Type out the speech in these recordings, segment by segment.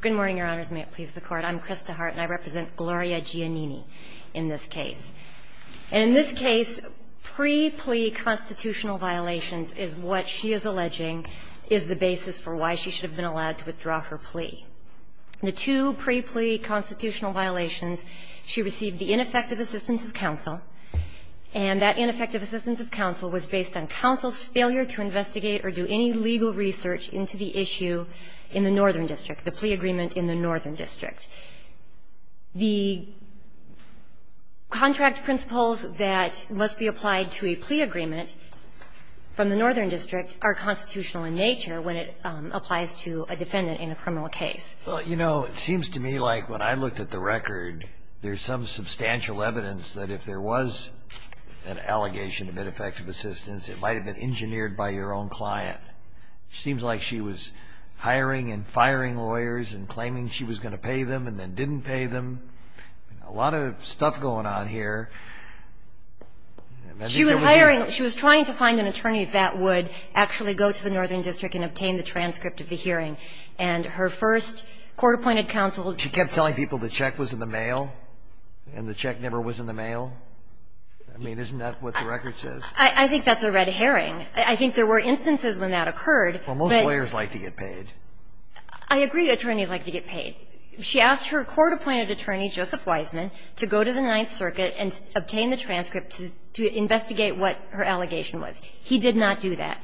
Good morning, Your Honors. May it please the Court. I'm Chris DeHart, and I represent Gloria Giannini in this case. And in this case, pre-plea constitutional violations is what she is alleging is the basis for why she should have been allowed to withdraw her plea. The two pre-plea constitutional violations, she received the ineffective assistance of counsel, and that ineffective assistance of counsel was based on the plea agreement in the Northern District. The contract principles that must be applied to a plea agreement from the Northern District are constitutional in nature when it applies to a defendant in a criminal case. Well, you know, it seems to me like when I looked at the record, there's some substantial evidence that if there was an allegation of ineffective assistance, it might have been engineered by your own client. It seems like she was hiring and firing lawyers and claiming she was going to pay them and then didn't pay them. A lot of stuff going on here. She was hiring. She was trying to find an attorney that would actually go to the Northern District and obtain the transcript of the hearing. And her first court-appointed counsel, she kept telling people the check was in the mail and the check never was in the mail. I mean, isn't that what the record says? I think that's a red herring. I think there were instances when that occurred. Well, most lawyers like to get paid. I agree attorneys like to get paid. She asked her court-appointed attorney, Joseph Wiseman, to go to the Ninth Circuit and obtain the transcript to investigate what her allegation was. He did not do that.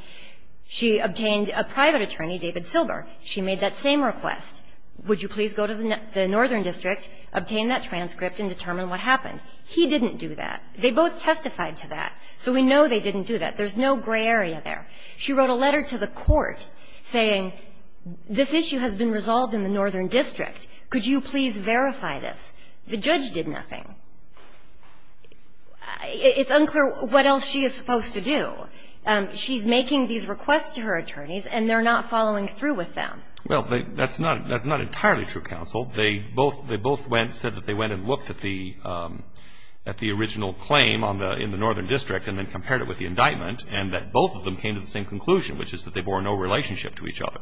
She obtained a private attorney, David Silber. She made that same request. Would you please go to the Northern District, obtain that transcript, and determine what happened. He didn't do that. They both testified to that, so we know they didn't do that. There's no gray area there. She wrote a letter to the court saying, this issue has been resolved in the Northern District. Could you please verify this? The judge did nothing. It's unclear what else she is supposed to do. She's making these requests to her attorneys, and they're not following through with them. Well, that's not entirely true, counsel. They both went, said that they went and looked at the original claim in the Northern District and then compared it with the indictment, and that both of them came to the same conclusion, which is that they bore no relationship to each other.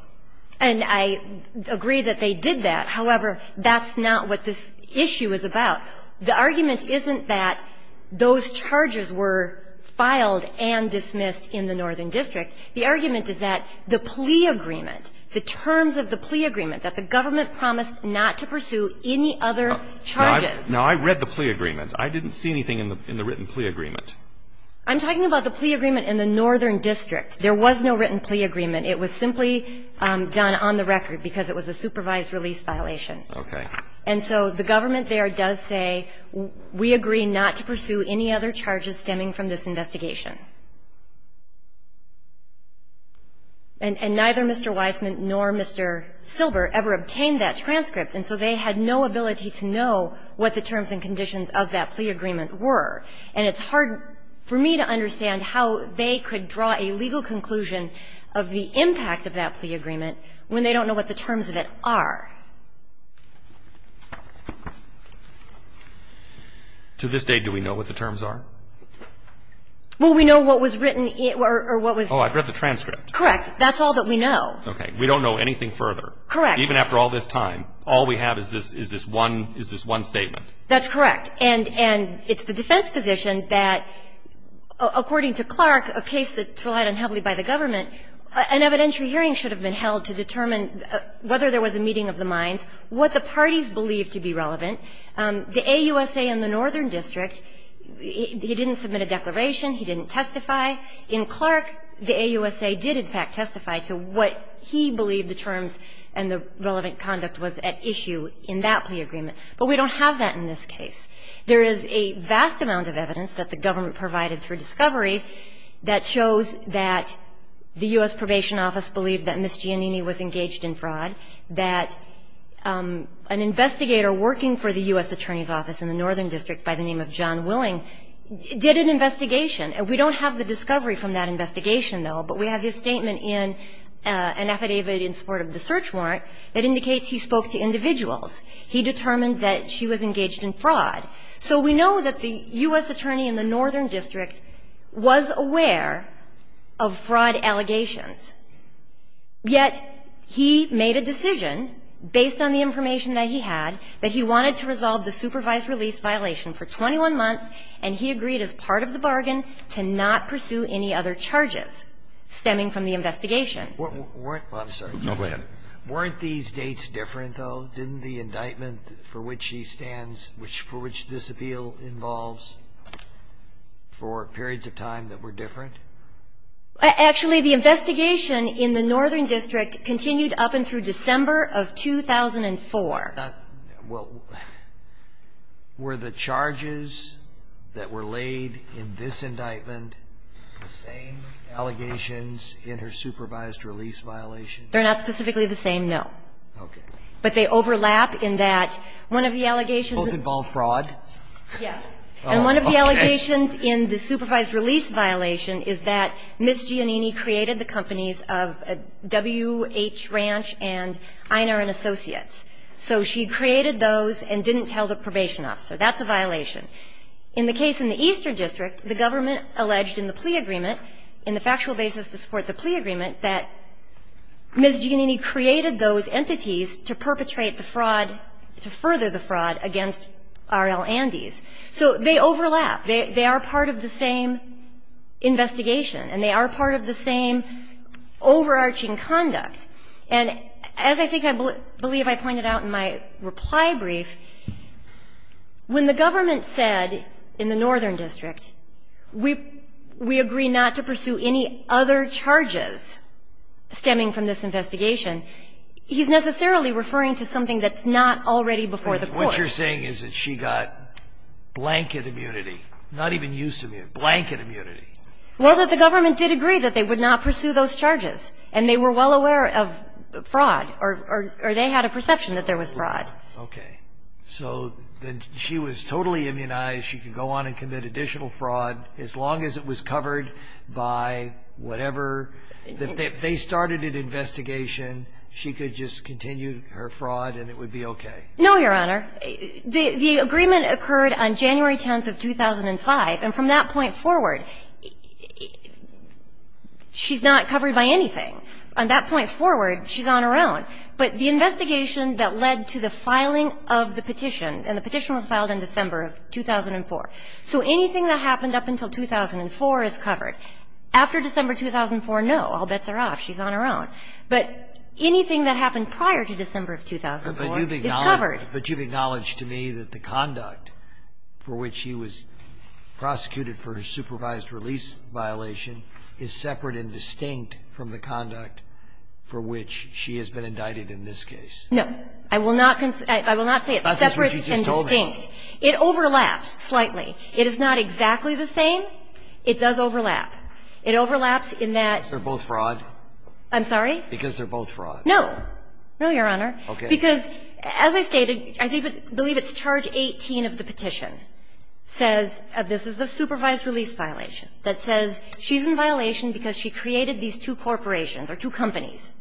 And I agree that they did that. However, that's not what this issue is about. The argument isn't that those charges were filed and dismissed in the Northern District. The argument is that the plea agreement, the terms of the plea agreement that the government promised not to pursue any other charges. Now, I read the plea agreement. I didn't see anything in the written plea agreement. I'm talking about the plea agreement in the Northern District. There was no written plea agreement. It was simply done on the record because it was a supervised release violation. Okay. And so the government there does say, we agree not to pursue any other charges stemming from this investigation. And neither Mr. Weisman nor Mr. Silber ever obtained that transcript, and so they had no ability to know what the terms and conditions of that plea agreement were. And it's hard for me to understand how they could draw a legal conclusion of the impact of that plea agreement when they don't know what the terms of it are. To this day, do we know what the terms are? Well, we know what was written or what was ---- Oh, I've read the transcript. Correct. That's all that we know. Okay. We don't know anything further. Correct. Even after all this time, all we have is this one statement. That's correct. And it's the defense position that, according to Clark, a case that's relied on heavily by the government, an evidentiary hearing should have been held to determine whether there was a meeting of the minds, what the parties believed to be relevant. The AUSA and the Northern District, he didn't submit a declaration. He didn't testify. In Clark, the AUSA did, in fact, testify to what he believed the terms and the relevant conduct was at issue in that plea agreement. But we don't have that in this case. There is a vast amount of evidence that the government provided through discovery that shows that the U.S. Probation Office believed that Ms. Giannini was engaged in fraud, that an investigator working for the U.S. Attorney's Office in the Northern District by the name of John Willing did an investigation. And we don't have the discovery from that investigation, though. But we have his statement in an affidavit in support of the search warrant that indicates he spoke to individuals. He determined that she was engaged in fraud. So we know that the U.S. Attorney in the Northern District was aware of fraud allegations. Yet he made a decision, based on the information that he had, that he wanted to resolve the supervised release violation for 21 months, and he agreed as part of the bargain to not pursue any other charges stemming from the investigation. Scalia. Weren't these dates different, though, didn't the indictment for which he stands, for which this appeal involves, for periods of time that were different? Actually, the investigation in the Northern District continued up and through December of 2004. It's not ñ well, were the charges that were laid in this indictment the same allegations in her supervised release violation? They're not specifically the same, no. Okay. But they overlap in that one of the allegations ñ Both involve fraud? Yes. Oh, okay. The allegations in the supervised release violation is that Ms. Giannini created the companies of W.H. Ranch and Einar and Associates. So she created those and didn't tell the probation officer. That's a violation. In the case in the Eastern District, the government alleged in the plea agreement, in the factual basis to support the plea agreement, that Ms. Giannini created those entities to perpetrate the fraud, to further the fraud against R.L. Andes. So they overlap. They are part of the same investigation, and they are part of the same overarching conduct. And as I think I believe I pointed out in my reply brief, when the government said in the Northern District, we agree not to pursue any other charges stemming from this investigation, he's necessarily referring to something that's not already before the court. What you're saying is that she got blanket immunity, not even use immunity, blanket immunity. Well, the government did agree that they would not pursue those charges, and they were well aware of fraud, or they had a perception that there was fraud. Okay. So then she was totally immunized. She could go on and commit additional fraud as long as it was covered by whatever ñ if they started an investigation, she could just continue her fraud, and it would be okay. No, Your Honor. The agreement occurred on January 10th of 2005, and from that point forward, she's not covered by anything. On that point forward, she's on her own. But the investigation that led to the filing of the petition, and the petition was filed in December of 2004, so anything that happened up until 2004 is covered. After December 2004, no, all bets are off, she's on her own. But anything that happened prior to December of 2004 is covered. But you've acknowledged to me that the conduct for which she was prosecuted for her supervised release violation is separate and distinct from the conduct for which she has been indicted in this case. No. I will not ñ I will not say it's separate and distinct. It overlaps slightly. It is not exactly the same. It does overlap. It overlaps in that ñ Because they're both fraud? I'm sorry? Because they're both fraud. No. No, Your Honor. Okay. Because, as I stated, I believe it's charge 18 of the petition says, this is the supervised release violation, that says she's in violation because she created these two corporations or two companies.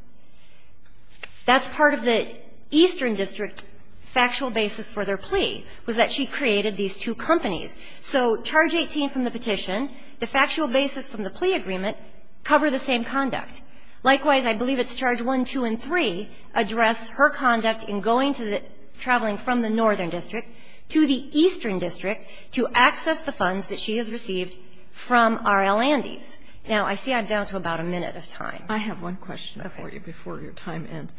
That's part of the Eastern District factual basis for their plea, was that she created these two companies. So charge 18 from the petition, the factual basis from the plea agreement, cover the same conduct. Likewise, I believe it's charge 1, 2, and 3 address her conduct in going to the ñ traveling from the Northern District to the Eastern District to access the funds that she has received from R.L. Andes. Now, I see I'm down to about a minute of time. I have one question for you before your time ends.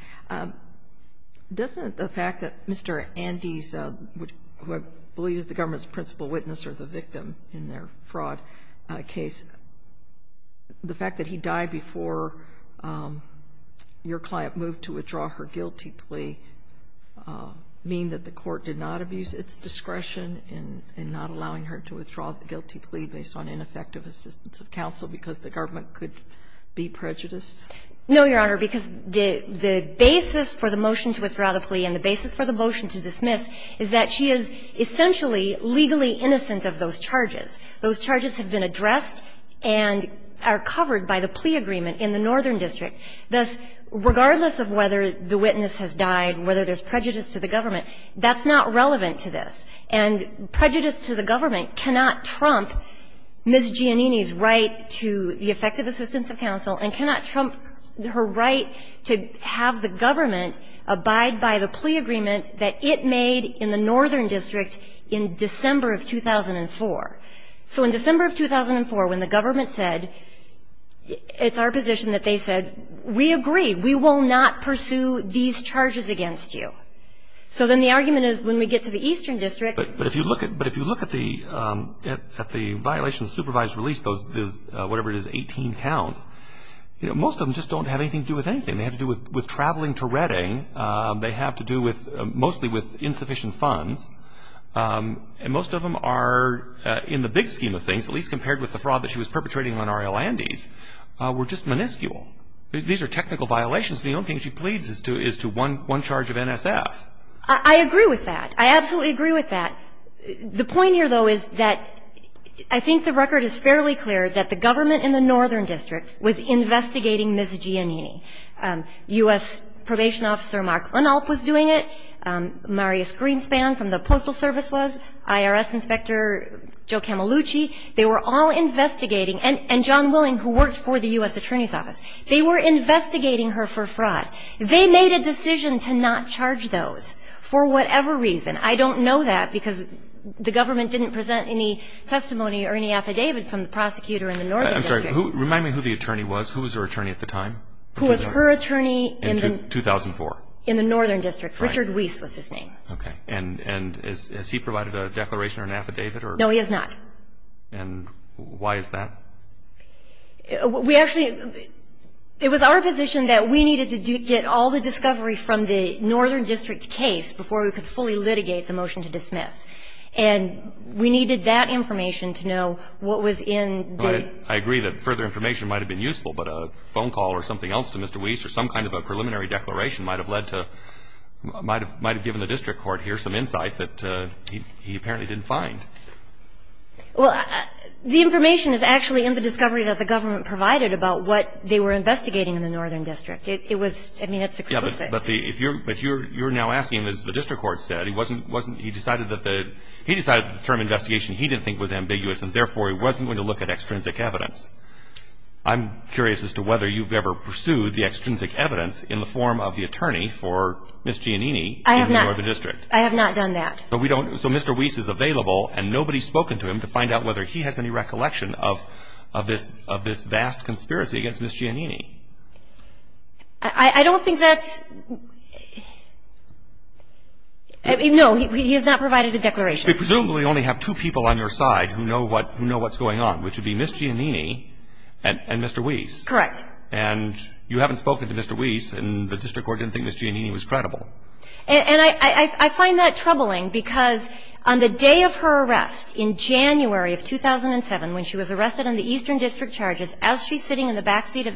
Doesn't the fact that Mr. Andes, who I believe is the government's principal witness or the victim in their fraud case, the fact that he died before your client moved to withdraw her guilty plea mean that the court did not abuse its discretion in not allowing her to withdraw the guilty plea based on ineffective assistance of counsel because the government could be prejudiced? No, Your Honor, because the basis for the motion to withdraw the plea and the basis for the motion to dismiss is that she is essentially legally innocent of those charges. Those charges have been addressed and are covered by the plea agreement in the Northern District. Thus, regardless of whether the witness has died, whether there's prejudice to the government, that's not relevant to this. And prejudice to the government cannot trump Ms. Giannini's right to the effective assistance of counsel and cannot trump her right to have the government abide by the argument that it made in the Northern District in December of 2004. So in December of 2004, when the government said, it's our position that they said, we agree, we will not pursue these charges against you. So then the argument is when we get to the Eastern District ---- But if you look at the violation of supervised release, those whatever it is, 18 counts, most of them just don't have anything to do with anything. They have to do with traveling to Redding. They have to do with ---- mostly with insufficient funds. And most of them are, in the big scheme of things, at least compared with the fraud that she was perpetrating on Arial Andes, were just minuscule. These are technical violations. The only thing she pleads is to one charge of NSF. I agree with that. I absolutely agree with that. The point here, though, is that I think the record is fairly clear that the government in the Northern District was investigating Ms. Giannini. U.S. Probation Officer Mark Rinalp was doing it. Marius Greenspan from the Postal Service was. IRS Inspector Joe Camelucci. They were all investigating. And John Willing, who worked for the U.S. Attorney's Office. They were investigating her for fraud. They made a decision to not charge those for whatever reason. I don't know that because the government didn't present any testimony or any affidavit from the prosecutor in the Northern District. I'm sorry. Remind me who the attorney was. Who was her attorney at the time? Who was her attorney in the. In 2004. In the Northern District. Richard Weiss was his name. Okay. And has he provided a declaration or an affidavit or. No, he has not. And why is that? We actually, it was our position that we needed to get all the discovery from the Northern District case before we could fully litigate the motion to dismiss. And we needed that information to know what was in the. Right. I agree that further information might have been useful. But a phone call or something else to Mr. Weiss or some kind of a preliminary declaration might have led to, might have given the district court here some insight that he apparently didn't find. Well, the information is actually in the discovery that the government provided about what they were investigating in the Northern District. It was, I mean, it's explicit. Yeah, but if you're, but you're now asking, as the district court said, he wasn't, wasn't, he decided that the, he decided the term investigation he didn't think was I'm curious as to whether you've ever pursued the extrinsic evidence in the form of the attorney for Ms. Giannini in the Northern District. I have not done that. But we don't, so Mr. Weiss is available and nobody's spoken to him to find out whether he has any recollection of, of this, of this vast conspiracy against Ms. Giannini. I don't think that's, no, he has not provided a declaration. You presumably only have two people on your side who know what, who know what's going on, which would be Ms. Giannini and, and Mr. Weiss. Correct. And you haven't spoken to Mr. Weiss and the district court didn't think Ms. Giannini was credible. And, and I, I, I find that troubling because on the day of her arrest in January of 2007, when she was arrested on the Eastern District charges, as she's sitting in the backseat of,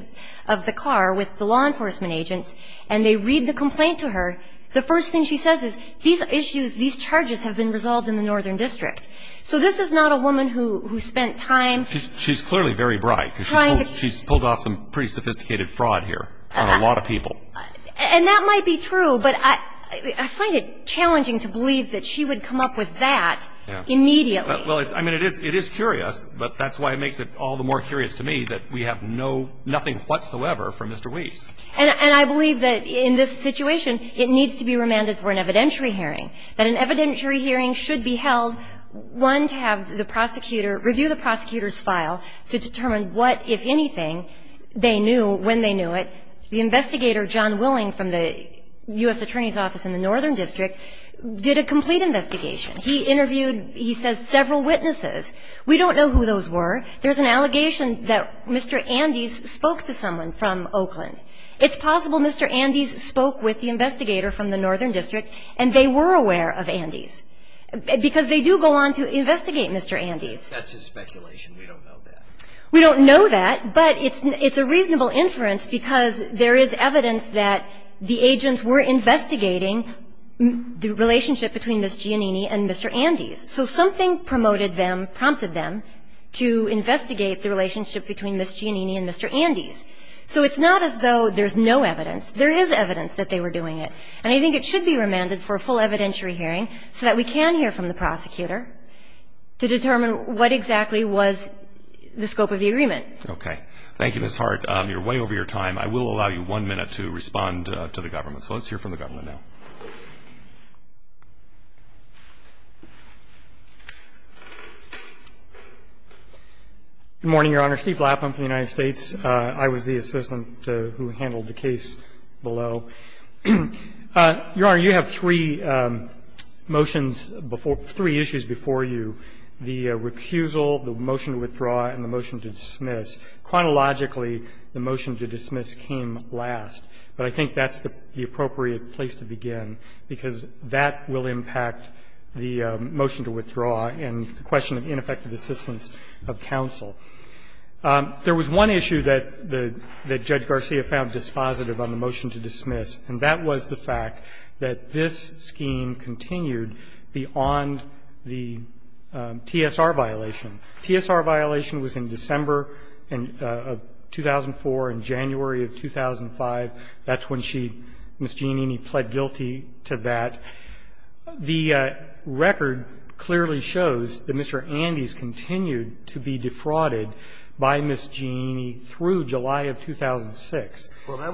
of the car with the law enforcement agents and they read the complaint to her, the first thing she says is, these issues, these charges have been resolved in the Northern District. So this is not a woman who, who spent time. She's, she's clearly very bright. Trying to. She's pulled off some pretty sophisticated fraud here on a lot of people. And that might be true, but I, I find it challenging to believe that she would come up with that immediately. Well, it's, I mean, it is, it is curious, but that's why it makes it all the more curious to me that we have no, nothing whatsoever from Mr. Weiss. And, and I believe that in this situation, it needs to be remanded for an evidentiary hearing should be held, one, to have the prosecutor review the prosecutor's file to determine what, if anything, they knew when they knew it. The investigator, John Willing, from the U.S. Attorney's Office in the Northern District, did a complete investigation. He interviewed, he says, several witnesses. We don't know who those were. There's an allegation that Mr. Andes spoke to someone from Oakland. It's possible Mr. Andes spoke with the investigator from the Northern District and they were aware of Andes, because they do go on to investigate Mr. Andes. That's a speculation. We don't know that. We don't know that, but it's, it's a reasonable inference because there is evidence that the agents were investigating the relationship between Ms. Giannini and Mr. Andes. So something promoted them, prompted them to investigate the relationship between Ms. Giannini and Mr. Andes. So it's not as though there's no evidence. There is evidence that they were doing it. And I think it should be remanded for a full evidentiary hearing so that we can hear from the prosecutor to determine what exactly was the scope of the agreement. Okay. Thank you, Ms. Hart. You're way over your time. I will allow you one minute to respond to the government. So let's hear from the government now. Good morning, Your Honor. Steve Lapham from the United States. I was the assistant who handled the case below. Your Honor, you have three motions before, three issues before you, the recusal, the motion to withdraw, and the motion to dismiss. Chronologically, the motion to dismiss came last, but I think that's the appropriate place to begin because that will impact the motion to withdraw and the question of ineffective assistance of counsel. There was one issue that Judge Garcia found dispositive on the motion to dismiss, and that was the fact that this scheme continued beyond the TSR violation. TSR violation was in December of 2004 and January of 2005. That's when she, Ms. Giannini, pled guilty to that. The record clearly shows that Mr. Andes continued to be defrauded by Ms. Giannini through July of 2006. Well, that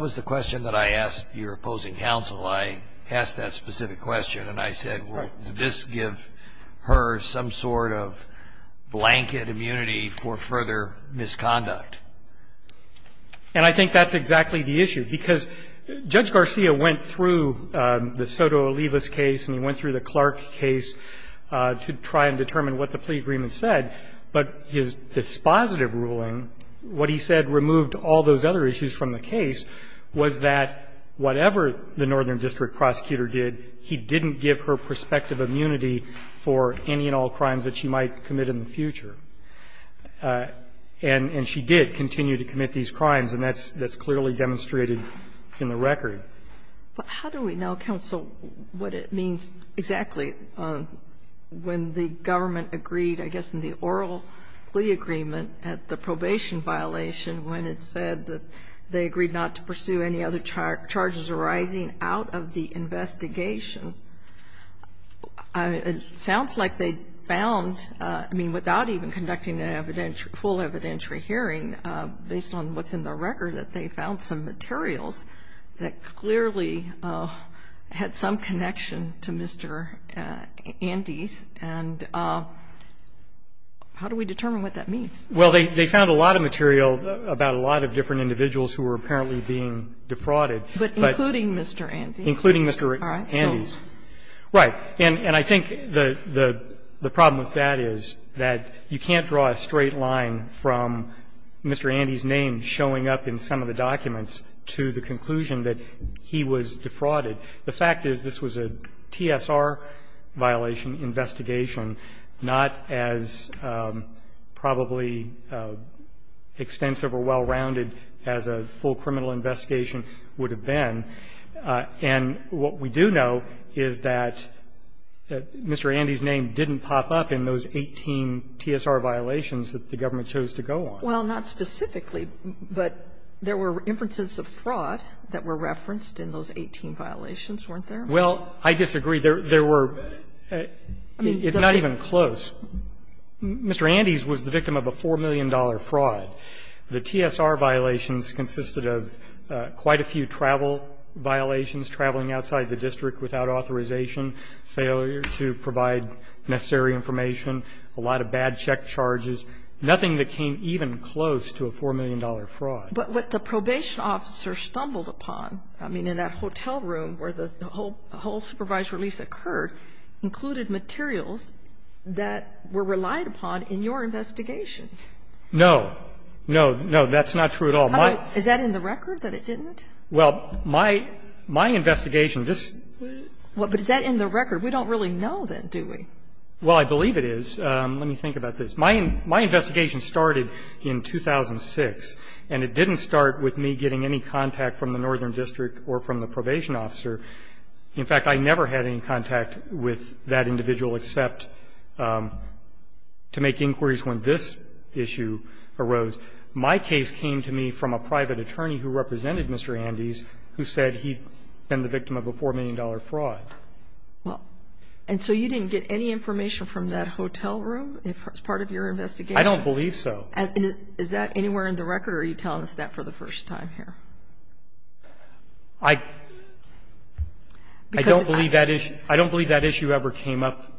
was the question that I asked your opposing counsel. I asked that specific question, and I said, well, does this give her some sort of blanket immunity for further misconduct? And I think that's exactly the issue because Judge Garcia went through the Soto Olivas case and he went through the Clark case to try and determine what the plea agreement said. But his dispositive ruling, what he said removed all those other issues from the case, was that whatever the northern district prosecutor did, he didn't give her prospective immunity for any and all crimes that she might commit in the future. And she did continue to commit these crimes, and that's clearly demonstrated in the record. But how do we know, counsel, what it means exactly when the government agreed, I guess, in the oral plea agreement, at the probation violation, when it said that they agreed not to pursue any other charges arising out of the investigation? It sounds like they found, I mean, without even conducting an evidentiary ---- full evidentiary hearing, based on what's in the record, that they found some materials that clearly had some connection to Mr. Andes. And how do we determine what that means? Well, they found a lot of material about a lot of different individuals who were apparently being defrauded. But including Mr. Andes? Including Mr. Andes. All right. Right. And I think the problem with that is that you can't draw a straight line from Mr. Andes' name showing up in some of the documents to the conclusion that he was defrauded. The fact is this was a TSR violation investigation, not as probably extensive or well-rounded as a full criminal investigation would have been. And what we do know is that Mr. Andes' name didn't pop up in those 18 TSR violations that the government chose to go on. Well, not specifically, but there were inferences of fraud that were referenced in those 18 violations, weren't there? Well, I disagree. There were – I mean, it's not even close. Mr. Andes was the victim of a $4 million fraud. The TSR violations consisted of quite a few travel violations, traveling outside the district without authorization, failure to provide necessary information, a lot of bad check charges, nothing that came even close to a $4 million fraud. But what the probation officer stumbled upon, I mean, in that hotel room where the whole supervised release occurred, included materials that were relied upon in your investigation. No. No, no, that's not true at all. Is that in the record that it didn't? Well, my – my investigation, this – Well, but is that in the record? We don't really know, then, do we? Well, I believe it is. Let me think about this. My investigation started in 2006, and it didn't start with me getting any contact from the northern district or from the probation officer. In fact, I never had any contact with that individual except to make inquiries when this issue arose. My case came to me from a private attorney who represented Mr. Andes who said he'd been the victim of a $4 million fraud. Well, and so you didn't get any information from that hotel room as part of your investigation? I don't believe so. Is that anywhere in the record, or are you telling us that for the first time here? I don't believe that issue ever came up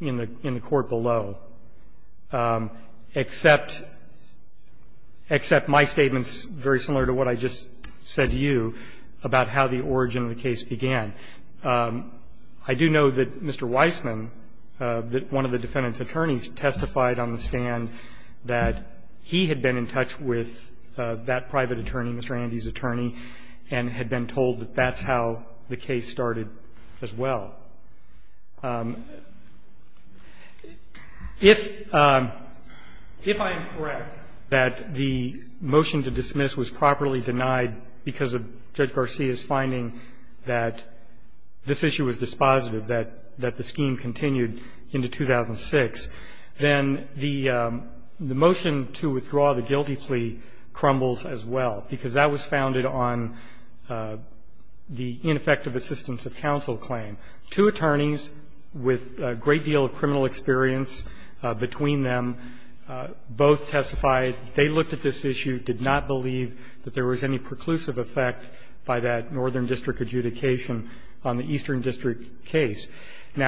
in the court below, except my statement's very similar to what I just said to you about how the origin of the case began. I do know that Mr. Weissman, one of the defendant's attorneys, testified on the stand that he had been in touch with that private attorney, Mr. Andes' attorney, and had been told that that's how the case started as well. If I am correct that the motion to dismiss was properly denied because of Judge Weissman's testimony, and that this issue was dispositive, that the scheme continued into 2006, then the motion to withdraw the guilty plea crumbles as well, because that was founded on the ineffective assistance of counsel claim. Two attorneys with a great deal of criminal experience between them both testified that they looked at this issue, did not believe that there was any preclusive effect by that northern district adjudication on the eastern district case. And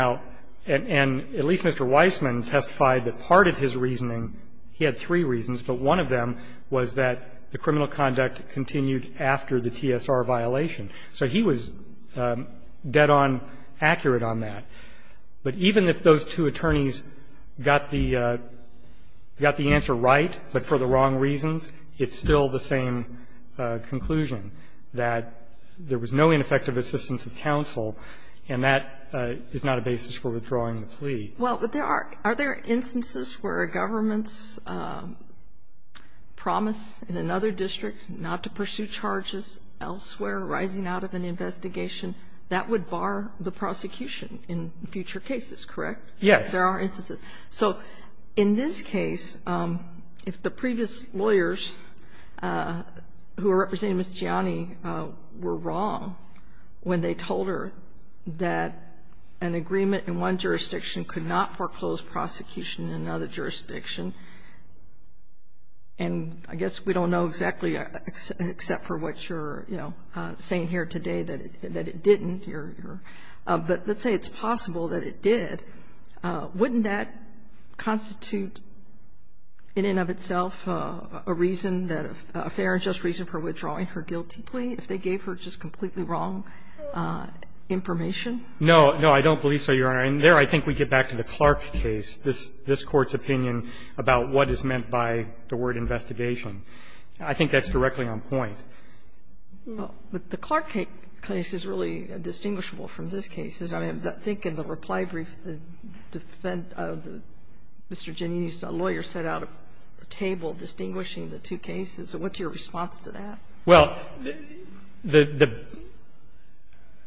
at least Mr. Weissman testified that part of his reasoning, he had three reasons, but one of them was that the criminal conduct continued after the TSR violation. So he was dead on accurate on that. But even if those two attorneys got the answer right, but for the wrong reasons, it's still the same conclusion, that there was no ineffective assistance of counsel, and that is not a basis for withdrawing the plea. Sotomayor, are there instances where a government's promise in another district not to pursue charges elsewhere, rising out of an investigation, that would bar the future cases, correct? Yes. There are instances. So in this case, if the previous lawyers who are representing Ms. Gianni were wrong when they told her that an agreement in one jurisdiction could not foreclose prosecution in another jurisdiction, and I guess we don't know exactly, except for what you're, you know, saying here today that it didn't, but let's say it's possible that it did, wouldn't that constitute, in and of itself, a reason, a fair and just reason for withdrawing her guilty plea if they gave her just completely wrong information? No. No, I don't believe so, Your Honor. And there I think we get back to the Clark case, this Court's opinion about what is meant by the word investigation. I think that's directly on point. Well, but the Clark case is really distinguishable from this case. I mean, I think in the reply brief, the defense of Mr. Giannini's lawyer set out a table distinguishing the two cases. What's your response to that? Well,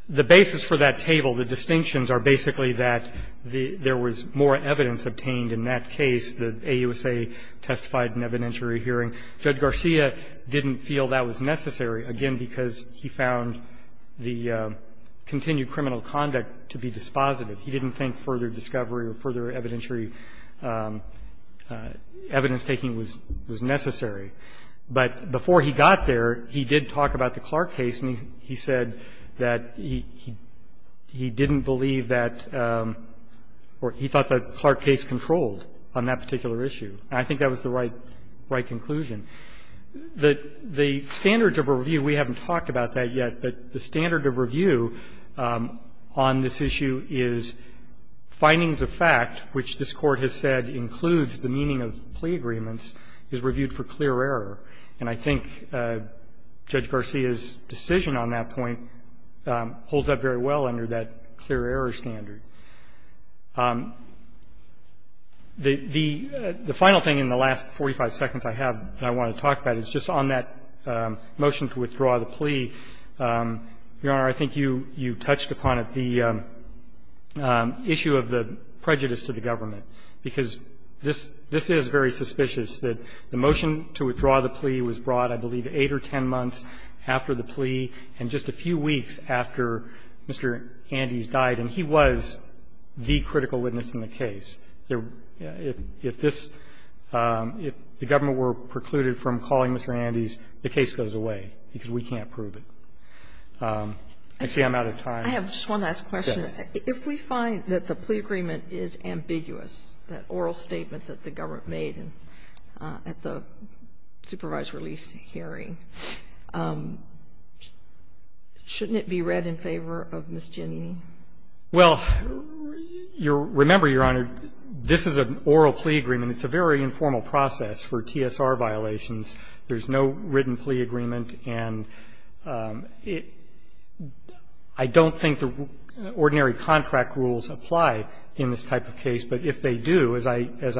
the basis for that table, the distinctions are basically that there was more evidence obtained in that case. The AUSA testified in evidentiary hearing. Judge Garcia didn't feel that was necessary, again, because he found the continued criminal conduct to be dispositive. He didn't think further discovery or further evidentiary evidence taking was necessary. But before he got there, he did talk about the Clark case, and he said that he didn't believe that or he thought that Clark case controlled on that particular issue. And I think that was the right conclusion. The standards of review, we haven't talked about that yet, but the standard of review on this issue is findings of fact, which this Court has said includes the meaning of plea agreements, is reviewed for clear error. And I think Judge Garcia's decision on that point holds up very well under that clear error standard. The final thing in the last 45 seconds I have that I want to talk about is just on that motion to withdraw the plea. Your Honor, I think you touched upon it, the issue of the prejudice to the government, because this is very suspicious, that the motion to withdraw the plea was brought, I believe, 8 or 10 months after the plea and just a few weeks after Mr. Andes died, and he was the critical witness in the case. If this – if the government were precluded from calling Mr. Andes, the case goes away, because we can't prove it. I see I'm out of time. Sotomayor, I have just one last question. If we find that the plea agreement is ambiguous, that oral statement that the government made at the supervised release hearing, shouldn't it be read in favor of Ms. Giannini? Well, remember, Your Honor, this is an oral plea agreement. It's a very informal process for TSR violations. There's no written plea agreement, and it – I don't think the ordinary contract rules apply in this type of case, but if they do, as I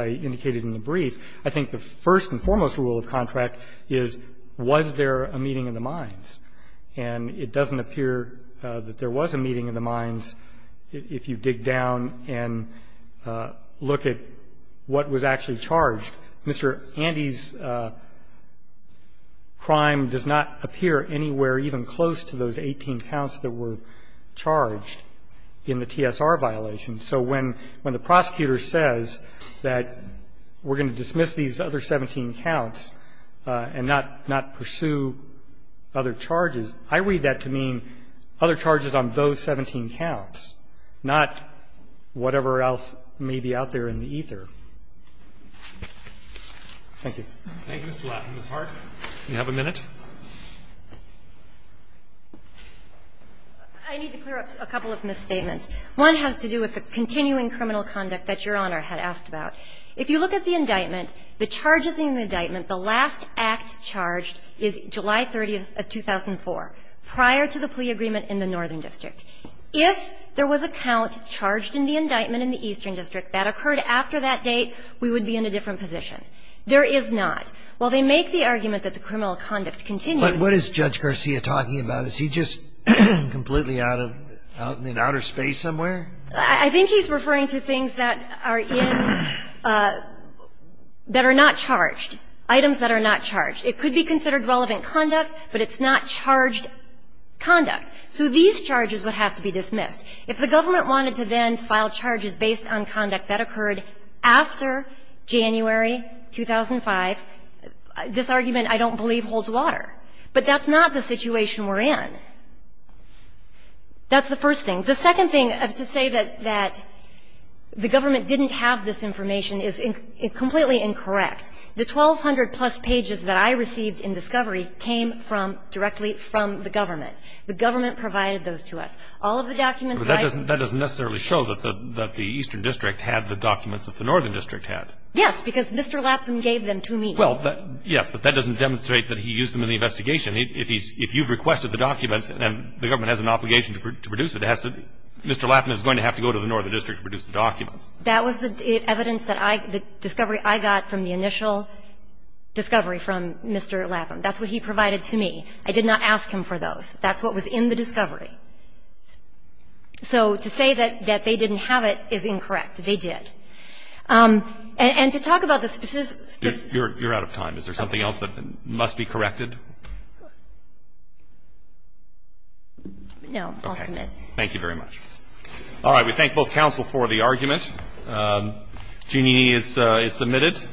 indicated in the brief, I think the first and foremost rule of contract is, was there a meeting in the mines? And it doesn't appear that there was a meeting in the mines if you dig down and look at what was actually charged. Mr. Andes' crime does not appear anywhere even close to those 18 counts that were charged in the TSR violation. So when the prosecutor says that we're going to dismiss these other 17 counts and not pursue other charges, I read that to mean other charges on those 17 counts, not whatever else may be out there in the ether. Thank you. Thank you, Mr. Latt. Ms. Hart, you have a minute. I need to clear up a couple of misstatements. One has to do with the continuing criminal conduct that Your Honor had asked about. If you look at the indictment, the charges in the indictment, the last act charged is July 30th of 2004, prior to the plea agreement in the Northern District. If there was a count charged in the indictment in the Eastern District that occurred after that date, we would be in a different position. There is not. While they make the argument that the criminal conduct continues to be in the Northern District, there is not. But what is Judge Garcia talking about? Is he just completely out of the outer space somewhere? I think he's referring to things that are in the Northern District that are not charged, items that are not charged. It could be considered relevant conduct, but it's not charged conduct. So these charges would have to be dismissed. If the government wanted to then file charges based on conduct that occurred after January 2005, this argument, I don't believe, holds water. But that's not the situation we're in. That's the first thing. The second thing, to say that the government didn't have this information is completely incorrect. The 1,200-plus pages that I received in discovery came from the government. The government provided those to us. All of the documents that I've been to. But that doesn't necessarily show that the Eastern District had the documents that the Northern District had. Yes, because Mr. Latham gave them to me. Well, yes, but that doesn't demonstrate that he used them in the investigation. If he's – if you've requested the documents and the government has an obligation to produce it, it has to – Mr. Latham is going to have to go to the Northern District to produce the documents. That was the evidence that I – the discovery I got from the initial discovery from Mr. Latham. That's what he provided to me. I did not ask him for those. That's what was in the discovery. So to say that they didn't have it is incorrect. They did. And to talk about the specific – You're out of time. Is there something else that must be corrected? No. I'll submit. Thank you very much. All right. We thank both counsel for the argument. Jeanne is submitted.